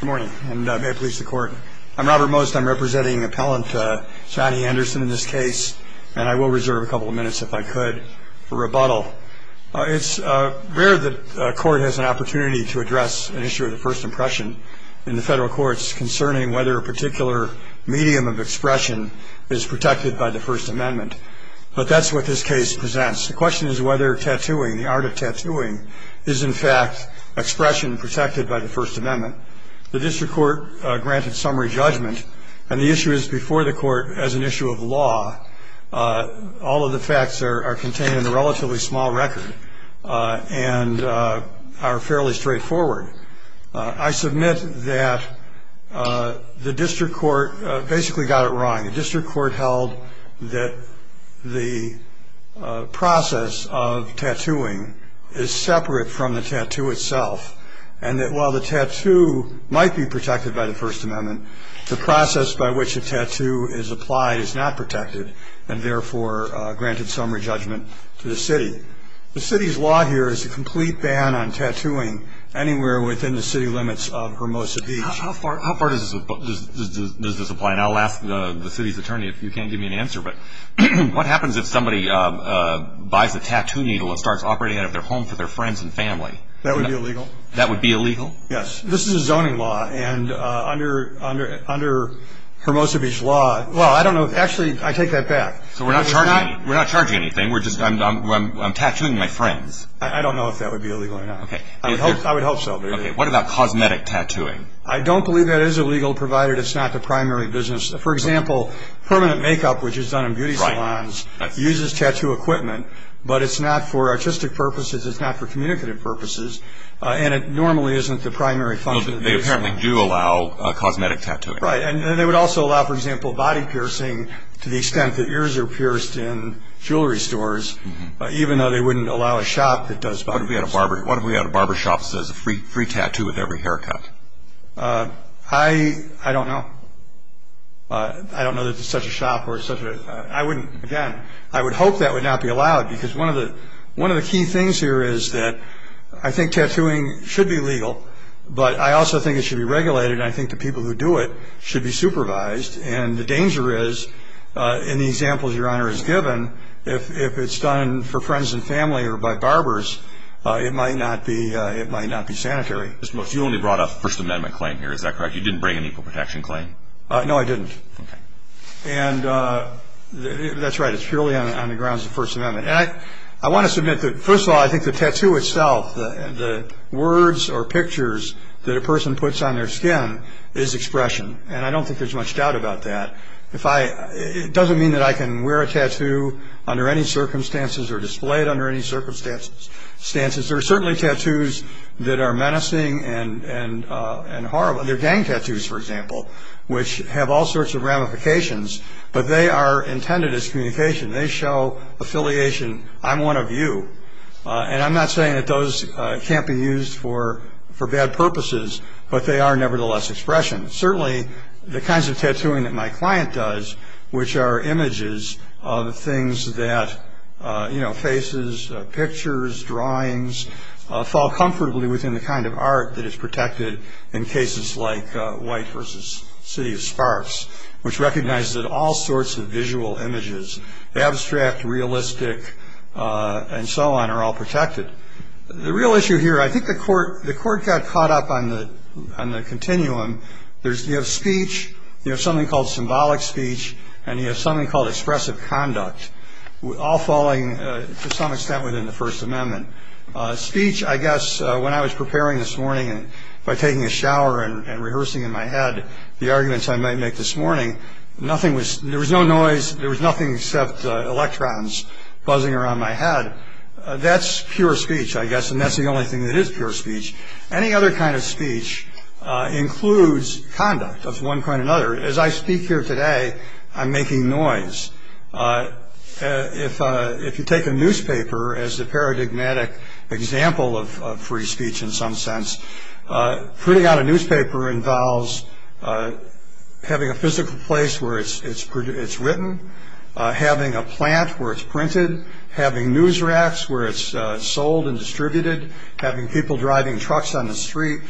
Good morning, and may it please the court. I'm Robert Most, I'm representing appellant Johnny Anderson in this case, and I will reserve a couple of minutes if I could for rebuttal. It's rare that a court has an opportunity to address an issue of the first impression in the federal courts concerning whether a particular medium of expression is protected by the First Amendment. But that's what this case presents. The question is whether tattooing, the art of tattooing, is in fact expression protected by the First Amendment. The district court granted summary judgment, and the issue is before the court as an issue of law. All of the facts are contained in a relatively small record and are fairly straightforward. I submit that the district court basically got it wrong. The district court held that the process of tattooing is separate from the tattoo itself, and that while the tattoo might be protected by the First Amendment, the process by which a tattoo is applied is not protected, and therefore granted summary judgment to the city. The city's law here is a complete ban on tattooing anywhere within the city limits of Hermosa Beach. How far does this apply? And I'll ask the city's attorney if you can't give me an answer. But what happens if somebody buys a tattoo needle and starts operating out of their home for their friends and family? That would be illegal. That would be illegal? Yes. This is a zoning law, and under Hermosa Beach law, well, I don't know. Actually, I take that back. So we're not charging anything. I'm tattooing my friends. I don't know if that would be illegal or not. I would hope so. Okay. What about cosmetic tattooing? I don't believe that is illegal, provided it's not the primary business. For example, permanent makeup, which is done in beauty salons, uses tattoo equipment, but it's not for artistic purposes. It's not for communicative purposes, and it normally isn't the primary function of the business. They apparently do allow cosmetic tattooing. Right. And they would also allow, for example, body piercing to the extent that ears are pierced in jewelry stores, even though they wouldn't allow a shop that does body piercing. What if we had a barber shop that says free tattoo with every haircut? I don't know. I don't know that there's such a shop or such a – I wouldn't – again, I would hope that would not be allowed, because one of the key things here is that I think tattooing should be legal, but I also think it should be regulated, and I think the people who do it should be supervised. And the danger is, in the examples Your Honor has given, if it's done for friends and family or by barbers, it might not be sanitary. Mr. Moskowitz, you only brought up a First Amendment claim here. Is that correct? You didn't bring an equal protection claim. No, I didn't. Okay. And that's right. It's purely on the grounds of the First Amendment. And I want to submit that, first of all, I think the tattoo itself, the words or pictures that a person puts on their skin is expression, and I don't think there's much doubt about that. If I – it doesn't mean that I can wear a tattoo under any circumstances or display it under any circumstances. There are certainly tattoos that are menacing and horrible. There are gang tattoos, for example, which have all sorts of ramifications, but they are intended as communication. They show affiliation. I'm one of you. And I'm not saying that those can't be used for bad purposes, but they are nevertheless expression. Certainly, the kinds of tattooing that my client does, which are images of things that, you know, faces, pictures, drawings, fall comfortably within the kind of art that is protected in cases like White vs. City of Sparks, which recognizes that all sorts of visual images, abstract, realistic, and so on, are all protected. The real issue here, I think the court got caught up on the continuum. You have speech, you have something called symbolic speech, and you have something called expressive conduct, all falling to some extent within the First Amendment. Speech, I guess, when I was preparing this morning and by taking a shower and rehearsing in my head, the arguments I might make this morning, there was no noise. There was nothing except electrons buzzing around my head. That's pure speech, I guess, and that's the only thing that is pure speech. Any other kind of speech includes conduct of one kind or another. As I speak here today, I'm making noise. If you take a newspaper as the paradigmatic example of free speech in some sense, printing out a newspaper involves having a physical place where it's written, having a plant where it's printed, having news racks where it's sold and distributed, having people driving trucks on the street.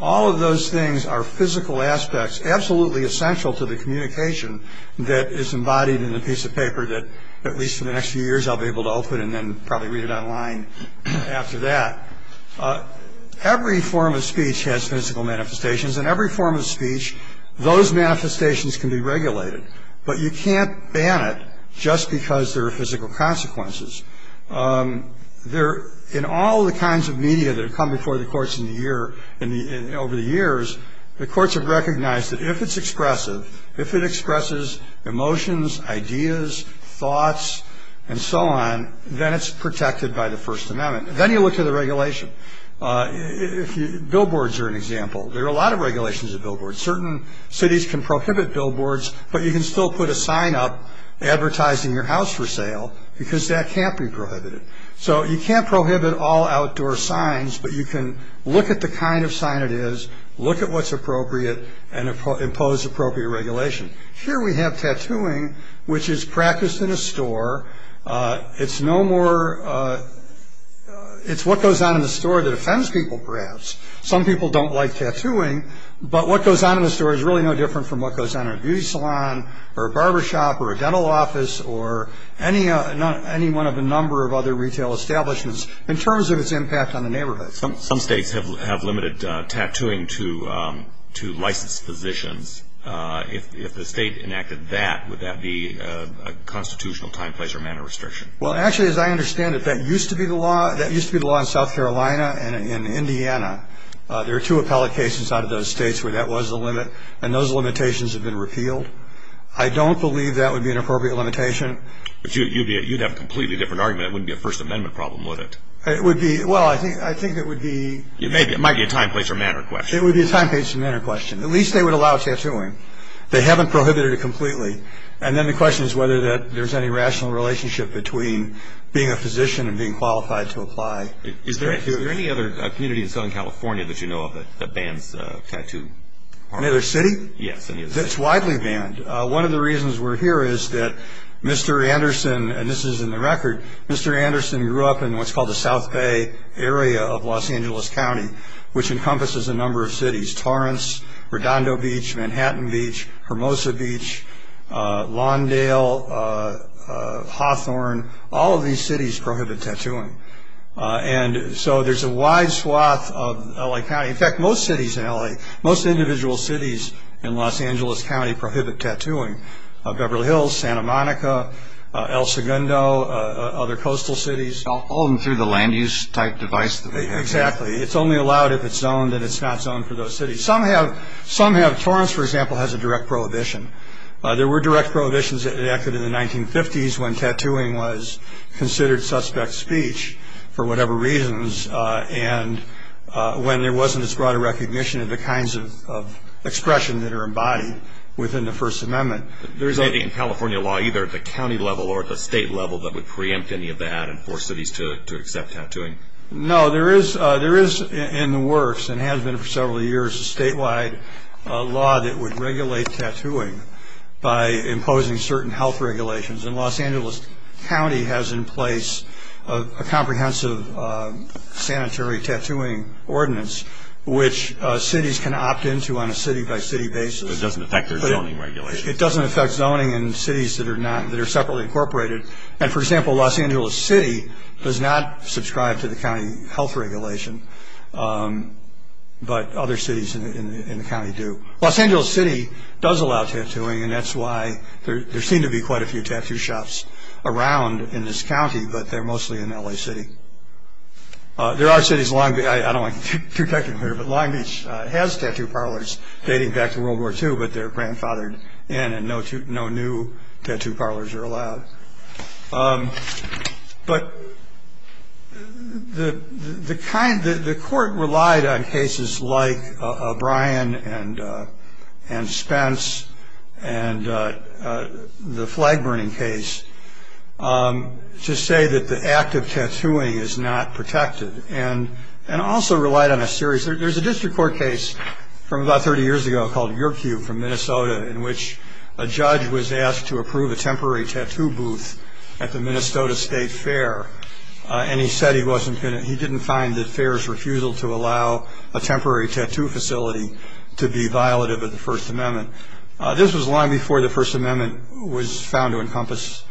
All of those things are physical aspects, absolutely essential to the communication that is embodied in a piece of paper that at least in the next few years I'll be able to open and then probably read it online after that. Every form of speech has physical manifestations. In every form of speech, those manifestations can be regulated, but you can't ban it just because there are physical consequences. In all the kinds of media that have come before the courts over the years, the courts have recognized that if it's expressive, if it expresses emotions, ideas, thoughts, and so on, then it's protected by the First Amendment. Then you look at the regulation. Billboards are an example. There are a lot of regulations of billboards. Certain cities can prohibit billboards, but you can still put a sign up advertising your house for sale because that can't be prohibited. So you can't prohibit all outdoor signs, but you can look at the kind of sign it is, look at what's appropriate, and impose appropriate regulation. Here we have tattooing, which is practiced in a store. It's no more – it's what goes on in the store that offends people, perhaps. Some people don't like tattooing, but what goes on in the store is really no different from what goes on in a beauty salon or a barbershop or a dental office or any one of a number of other retail establishments in terms of its impact on the neighborhood. Some states have limited tattooing to licensed physicians. If the state enacted that, would that be a constitutional time, place, or manner restriction? Well, actually, as I understand it, that used to be the law in South Carolina and in Indiana. There are two appellate cases out of those states where that was the limit, and those limitations have been repealed. I don't believe that would be an appropriate limitation. But you'd have a completely different argument. It wouldn't be a First Amendment problem, would it? It would be – well, I think it would be – It might be a time, place, or manner question. It would be a time, place, or manner question. At least they would allow tattooing. They haven't prohibited it completely. And then the question is whether there's any rational relationship between being a physician and being qualified to apply. Is there any other community in Southern California that you know of that bans tattooing? Any other city? Yes. It's widely banned. One of the reasons we're here is that Mr. Anderson – and this is in the record – Mr. Anderson grew up in what's called the South Bay area of Los Angeles County, which encompasses a number of cities – Torrance, Redondo Beach, Manhattan Beach, Hermosa Beach, Lawndale, Hawthorne. All of these cities prohibit tattooing. And so there's a wide swath of L.A. County – in fact, most cities in L.A. – most individual cities in Los Angeles County prohibit tattooing – Beverly Hills, Santa Monica, El Segundo, other coastal cities. All of them through the land-use type device? Exactly. It's only allowed if it's zoned and it's not zoned for those cities. Some have – Torrance, for example, has a direct prohibition. There were direct prohibitions that enacted in the 1950s when tattooing was considered suspect speech for whatever reasons and when there wasn't as broad a recognition of the kinds of expression that are embodied within the First Amendment. There isn't anything in California law either at the county level or at the state level that would preempt any of that and force cities to accept tattooing? No. There is in the works and has been for several years a statewide law that would regulate tattooing by imposing certain health regulations. And Los Angeles County has in place a comprehensive sanitary tattooing ordinance which cities can opt into on a city-by-city basis. It doesn't affect their zoning regulations? It doesn't affect zoning in cities that are not – that are separately incorporated. And, for example, Los Angeles City does not subscribe to the county health regulation, but other cities in the county do. Los Angeles City does allow tattooing, and that's why there seem to be quite a few tattoo shops around in this county, but they're mostly in L.A. City. There are cities – I don't want to get too technical here, but Long Beach has tattoo parlors dating back to World War II, but they're grandfathered in and no new tattoo parlors are allowed. But the kind – the court relied on cases like O'Brien and Spence and the flag-burning case to say that the act of tattooing is not protected and also relied on a series – there's a district court case from about 30 years ago called Yerkew from Minnesota in which a judge was asked to approve a temporary tattoo booth at the Minnesota State Fair, and he said he wasn't going to – he didn't find the fair's refusal to allow a temporary tattoo facility to be violative of the First Amendment. This was long before the First Amendment was found to encompass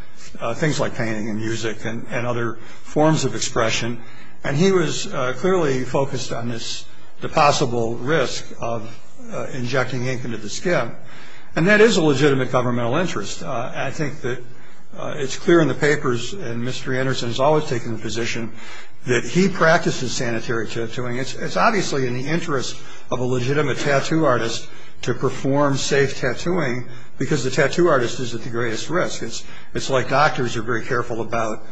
things like painting and music and other forms of expression, and he was clearly focused on this – the possible risk of injecting ink into the skin, and that is a legitimate governmental interest. I think that it's clear in the papers, and Mr. Anderson has always taken the position that he practices sanitary tattooing. It's obviously in the interest of a legitimate tattoo artist to perform safe tattooing because the tattoo artist is at the greatest risk. It's like doctors are very careful about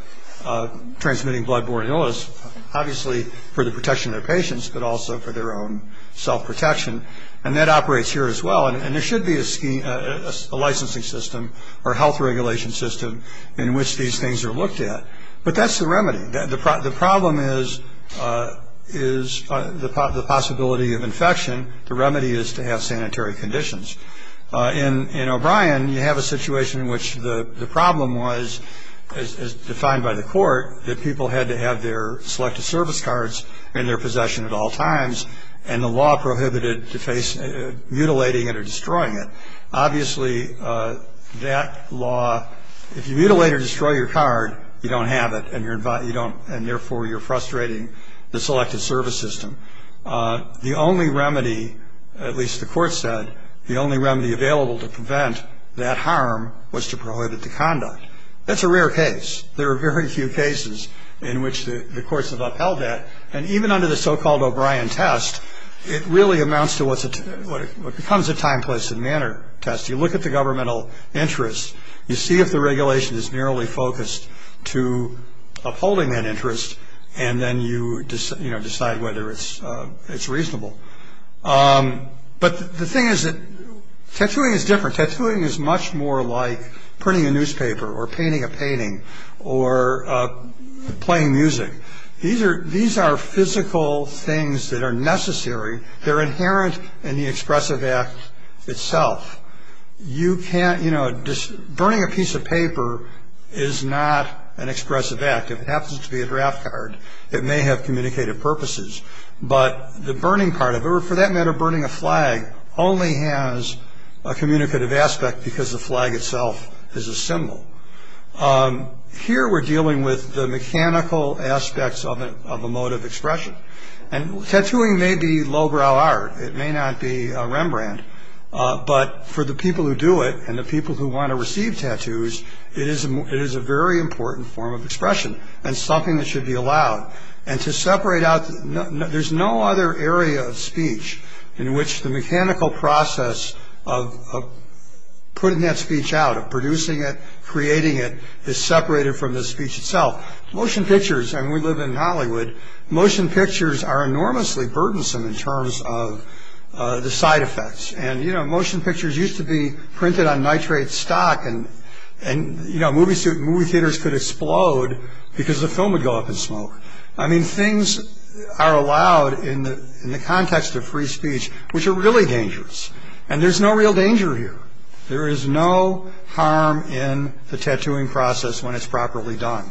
transmitting blood borne illness, obviously for the protection of their patients but also for their own self-protection, and that operates here as well, and there should be a licensing system or health regulation system in which these things are looked at, but that's the remedy. The problem is the possibility of infection. The remedy is to have sanitary conditions. In O'Brien, you have a situation in which the problem was, as defined by the court, that people had to have their Selective Service cards in their possession at all times, and the law prohibited mutilating it or destroying it. Obviously, that law – if you mutilate or destroy your card, you don't have it, and therefore you're frustrating the Selective Service system. The only remedy, at least the court said, the only remedy available to prevent that harm was to prohibit the conduct. That's a rare case. There are very few cases in which the courts have upheld that, and even under the so-called O'Brien test, it really amounts to what becomes a time, place, and manner test. You look at the governmental interest. You see if the regulation is merely focused to upholding that interest, and then you decide whether it's reasonable. But the thing is that tattooing is different. Tattooing is much more like printing a newspaper or painting a painting or playing music. These are physical things that are necessary. They're inherent in the expressive act itself. You can't – burning a piece of paper is not an expressive act. If it happens to be a draft card, it may have communicative purposes. But the burning part of it, or for that matter burning a flag, only has a communicative aspect because the flag itself is a symbol. Here we're dealing with the mechanical aspects of a mode of expression, and tattooing may be lowbrow art. It may not be Rembrandt, but for the people who do it and the people who want to receive tattoos, it is a very important form of expression and something that should be allowed. And to separate out – there's no other area of speech in which the mechanical process of putting that speech out, of producing it, creating it, is separated from the speech itself. Motion pictures – and we live in Hollywood – motion pictures are enormously burdensome in terms of the side effects. And, you know, motion pictures used to be printed on nitrate stock, and movie theaters could explode because the film would go up in smoke. I mean, things are allowed in the context of free speech, which are really dangerous. And there's no real danger here. There is no harm in the tattooing process when it's properly done.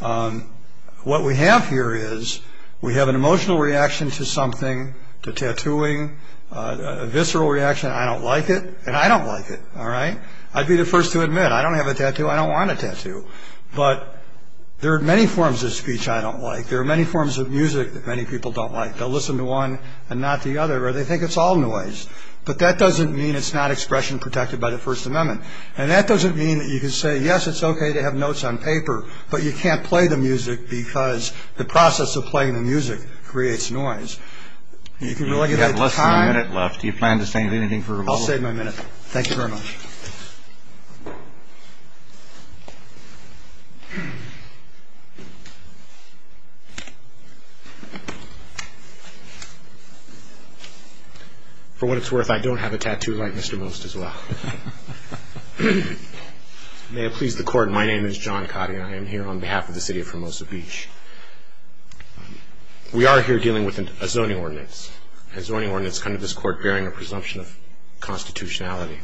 What we have here is we have an emotional reaction to something, to tattooing, a visceral reaction. I don't like it, and I don't like it. All right? I'd be the first to admit I don't have a tattoo, I don't want a tattoo. But there are many forms of speech I don't like. There are many forms of music that many people don't like. They'll listen to one and not the other, or they think it's all noise. But that doesn't mean it's not expression protected by the First Amendment. And that doesn't mean that you can say, yes, it's okay to have notes on paper, but you can't play the music because the process of playing the music creates noise. And you can regulate the time. You've got less than a minute left. Do you plan to save anything for rebuttal? I'll save my minute. Thank you very much. For what it's worth, I don't have a tattoo like Mr. Most, as well. May it please the Court, My name is John Cotty, and I am here on behalf of the city of Formosa Beach. We are here dealing with a zoning ordinance, a zoning ordinance coming to this Court bearing a presumption of constitutionality.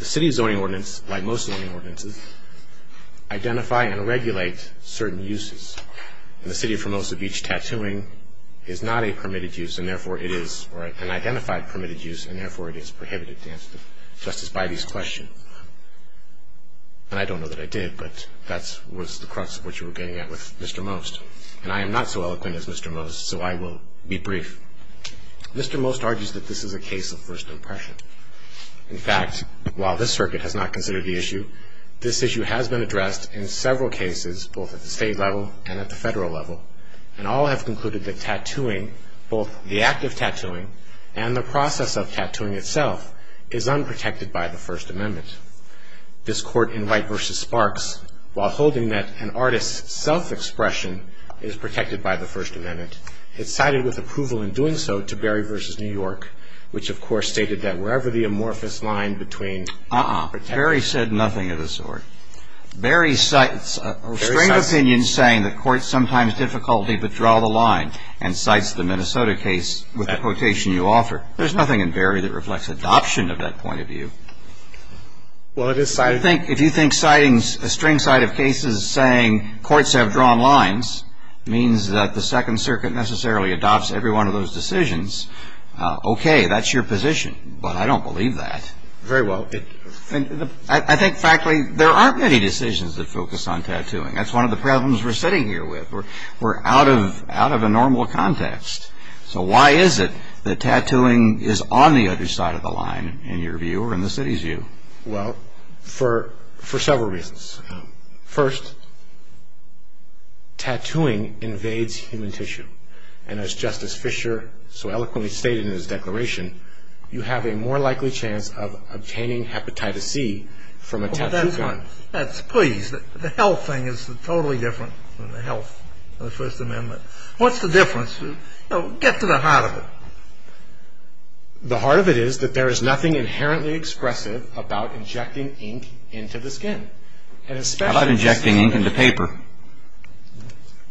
The city's zoning ordinance, like most zoning ordinances, identify and regulate certain uses. In the city of Formosa Beach, tattooing is not a permitted use, and therefore it is an identified permitted use, and therefore it is prohibited to answer Justice Bidey's question. And I don't know that I did, but that was the crux of what you were getting at with Mr. Most. And I am not so eloquent as Mr. Most, so I will be brief. Mr. Most argues that this is a case of first impression. In fact, while this circuit has not considered the issue, this issue has been addressed in several cases, both at the state level and at the federal level, and all have concluded that tattooing, both the act of tattooing and the process of tattooing itself, is unprotected by the First Amendment. This Court in White v. Sparks, while holding that an artist's self-expression is protected by the First Amendment, it cited with approval in doing so to Berry v. New York, which of course stated that wherever the amorphous line between... Uh-uh. Berry said nothing of the sort. Berry cites a strange opinion saying that courts sometimes difficulty withdraw the line and cites the Minnesota case with the quotation you offer. There's nothing in Berry that reflects adoption of that point of view. Well, it is cited... I think if you think citing a string side of cases saying courts have drawn lines means that the Second Circuit necessarily adopts every one of those decisions, okay, that's your position, but I don't believe that. Very well. I think, frankly, there aren't many decisions that focus on tattooing. That's one of the problems we're sitting here with. We're out of a normal context. So why is it that tattooing is on the other side of the line in your view or in the city's view? Well, for several reasons. First, tattooing invades human tissue, and as Justice Fischer so eloquently stated in his declaration, you have a more likely chance of obtaining hepatitis C from a tattooed man. Please, the health thing is totally different from the health of the First Amendment. What's the difference? Get to the heart of it. The heart of it is that there is nothing inherently expressive about injecting ink into the skin. How about injecting ink into paper?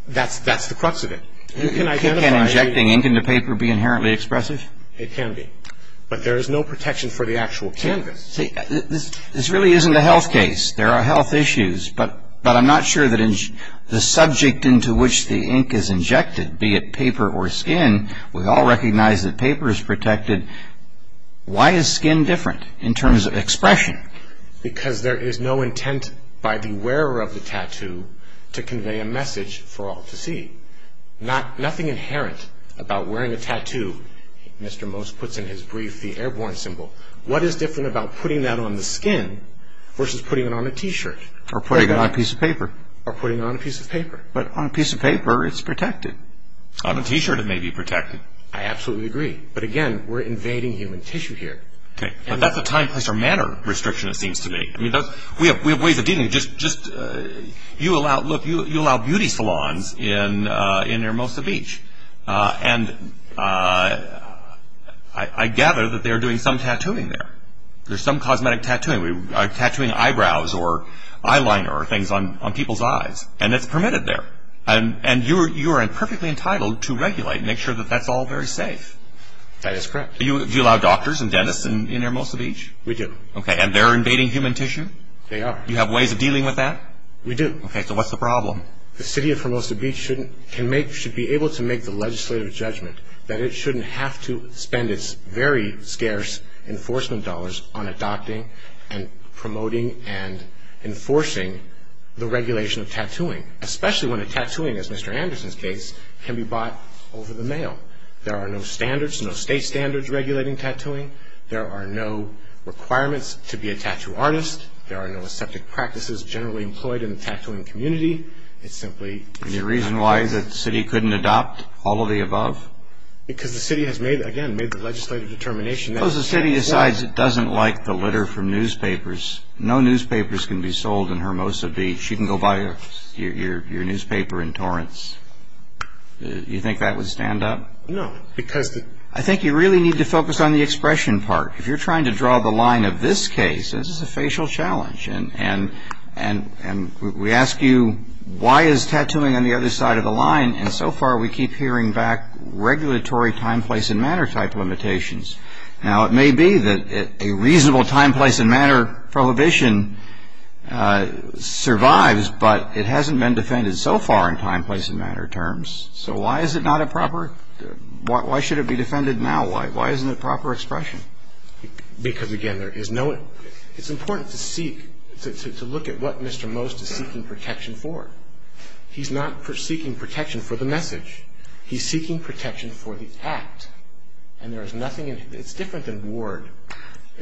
That's the crux of it. Can injecting ink into paper be inherently expressive? It can be. But there is no protection for the actual canvas. See, this really isn't a health case. There are health issues, but I'm not sure that the subject into which the ink is injected, be it paper or skin, we all recognize that paper is protected. Why is skin different in terms of expression? Because there is no intent by the wearer of the tattoo to convey a message for all to see. Nothing inherent about wearing a tattoo. Mr. Most puts in his brief the airborne symbol. What is different about putting that on the skin versus putting it on a T-shirt? Or putting it on a piece of paper. Or putting it on a piece of paper. But on a piece of paper, it's protected. On a T-shirt, it may be protected. I absolutely agree. But, again, we're invading human tissue here. Okay. But that's a time, place, or manner restriction, it seems to me. I mean, we have ways of dealing. Just, you allow beauty salons in Hermosa Beach. And I gather that they are doing some tattooing there. There's some cosmetic tattooing. Tattooing eyebrows or eyeliner or things on people's eyes. And it's permitted there. And you are perfectly entitled to regulate and make sure that that's all very safe. That is correct. Do you allow doctors and dentists in Hermosa Beach? We do. Okay. And they're invading human tissue? You have ways of dealing with that? We do. Okay. So what's the problem? Well, the city of Hermosa Beach should be able to make the legislative judgment that it shouldn't have to spend its very scarce enforcement dollars on adopting and promoting and enforcing the regulation of tattooing, especially when a tattooing, as Mr. Anderson's case, can be bought over the mail. There are no standards, no state standards regulating tattooing. There are no requirements to be a tattoo artist. There are no septic practices generally employed in the tattooing community. It's simply the city. Any reason why the city couldn't adopt all of the above? Because the city has made, again, made the legislative determination that it can't. Suppose the city decides it doesn't like the litter from newspapers. No newspapers can be sold in Hermosa Beach. You can go buy your newspaper in Torrance. Do you think that would stand up? No, because the... I think you really need to focus on the expression part. If you're trying to draw the line of this case, this is a facial challenge. And we ask you, why is tattooing on the other side of the line? And so far we keep hearing back regulatory time, place, and matter type limitations. Now, it may be that a reasonable time, place, and matter prohibition survives, but it hasn't been defended so far in time, place, and matter terms. So why is it not a proper... Why should it be defended now? Why isn't it proper expression? Because, again, there is no... It's important to seek, to look at what Mr. Most is seeking protection for. He's not seeking protection for the message. He's seeking protection for the act. And there is nothing... It's different than ward.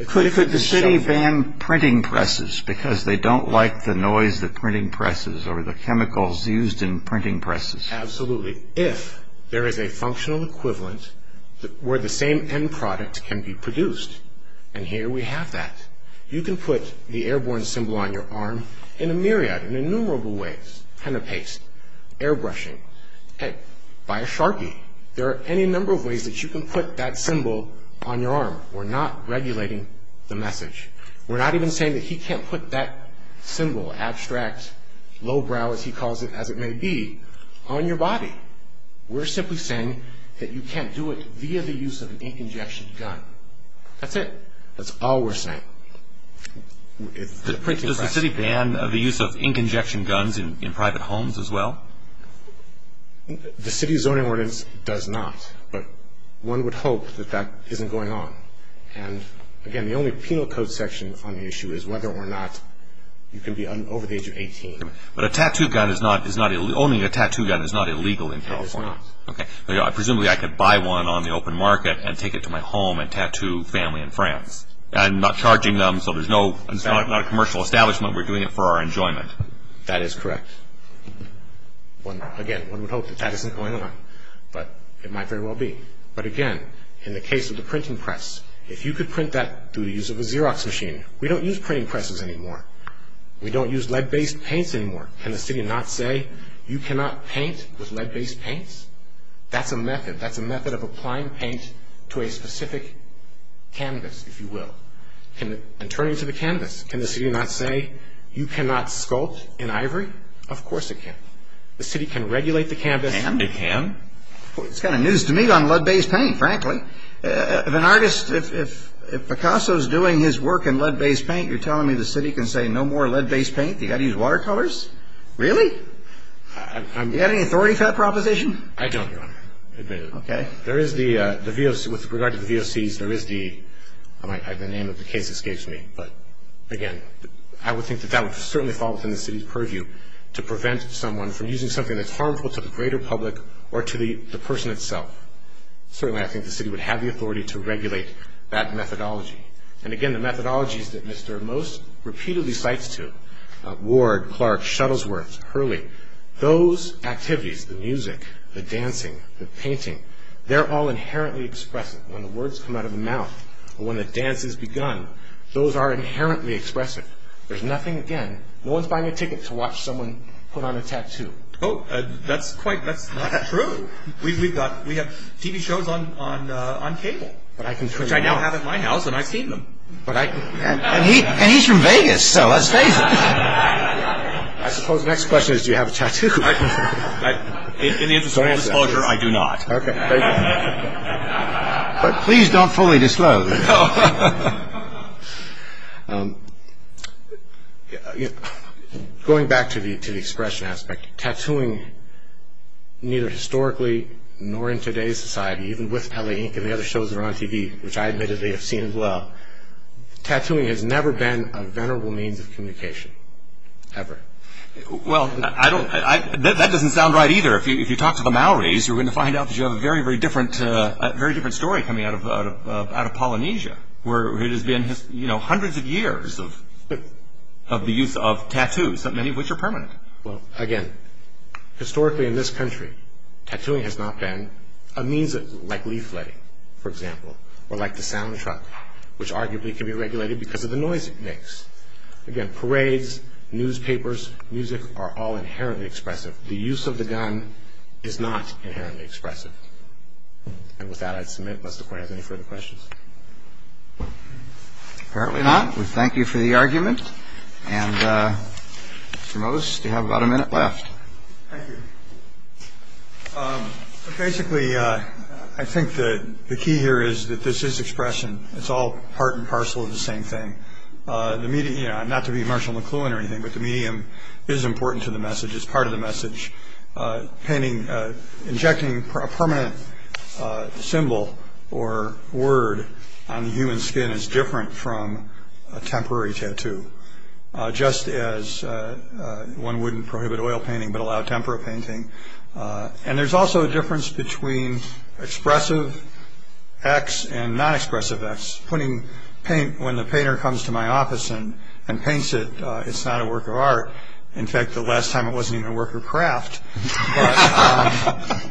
Could the city ban printing presses because they don't like the noise that printing presses or the chemicals used in printing presses? Absolutely. If there is a functional equivalent where the same end product can be produced. And here we have that. You can put the airborne symbol on your arm in a myriad, in innumerable ways. Pen and paste. Airbrushing. Buy a Sharpie. There are any number of ways that you can put that symbol on your arm. We're not regulating the message. We're not even saying that he can't put that symbol, abstract, lowbrow, as he calls it, as it may be, on your body. We're simply saying that you can't do it via the use of an ink injection gun. That's it. That's all we're saying. Does the city ban the use of ink injection guns in private homes as well? The city zoning ordinance does not. But one would hope that that isn't going on. Again, the only penal code section on the issue is whether or not you can be over the age of 18. But owning a tattoo gun is not illegal in California. It is not. Presumably I could buy one on the open market and take it to my home and tattoo family and friends. I'm not charging them, so it's not a commercial establishment. We're doing it for our enjoyment. That is correct. Again, one would hope that that isn't going on. But it might very well be. But again, in the case of the printing press, if you could print that through the use of a Xerox machine, we don't use printing presses anymore. We don't use lead-based paints anymore. Can the city not say you cannot paint with lead-based paints? That's a method. That's a method of applying paint to a specific canvas, if you will. And turning to the canvas, can the city not say you cannot sculpt in ivory? Of course it can. The city can regulate the canvas. And it can? It's kind of news to me on lead-based paint, frankly. If an artist, if Picasso's doing his work in lead-based paint, you're telling me the city can say no more lead-based paint, you've got to use watercolors? Really? Do you have any authority for that proposition? I don't, Your Honor. Okay. There is the VOC. With regard to the VOCs, there is the, I might add the name if the case escapes me. But again, I would think that that would certainly fall within the city's purview, to prevent someone from using something that's harmful to the greater public or to the person itself. Certainly I think the city would have the authority to regulate that methodology. And again, the methodologies that Mr. Most repeatedly cites to Ward, Clark, Shuttlesworth, Hurley, those activities, the music, the dancing, the painting, they're all inherently expressive. When the words come out of the mouth or when the dance has begun, those are inherently expressive. There's nothing, again, no one's buying a ticket to watch someone put on a tattoo. Oh, that's quite, that's not true. We have TV shows on cable, which I now have at my house, and I've seen them. And he's from Vegas, so let's face it. I suppose the next question is, do you have a tattoo? In the interest of full disclosure, I do not. Okay, thank you. But please don't fully disclose. There we go. Going back to the expression aspect, tattooing, neither historically nor in today's society, even with LA Ink and the other shows that are on TV, which I admittedly have seen as well, tattooing has never been a venerable means of communication, ever. Well, I don't, that doesn't sound right either. If you talk to the Maoris, you're going to find out that you have a very, very different, a very different story coming out of Polynesia, where it has been, you know, hundreds of years of the use of tattoos, many of which are permanent. Well, again, historically in this country, tattooing has not been a means of, like leafletting, for example, or like the sound truck, which arguably can be regulated because of the noise it makes. Again, parades, newspapers, music are all inherently expressive. The use of the gun is not inherently expressive. And with that, I submit Mr. Coyne has any further questions. Apparently not. We thank you for the argument. And Mr. Mose, you have about a minute left. Thank you. Basically, I think the key here is that this is expression. It's all part and parcel of the same thing. The media, you know, not to be Marshall McLuhan or anything, but the medium is important to the message. It's part of the message. Injecting a permanent symbol or word on the human skin is different from a temporary tattoo, just as one wouldn't prohibit oil painting but allow tempera painting. And there's also a difference between expressive X and non-expressive X. When the painter comes to my office and paints it, it's not a work of art. In fact, the last time it wasn't even a work of craft. But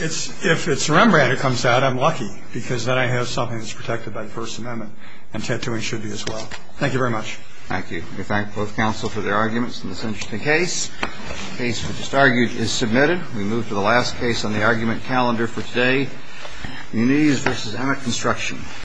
if it's Rembrandt it comes out, I'm lucky, because then I have something that's protected by the First Amendment, and tattooing should be as well. Thank you very much. Thank you. We thank both counsel for their arguments in this interesting case. The case we just argued is submitted. We move to the last case on the argument calendar for today, Inease v. Emmett Construction.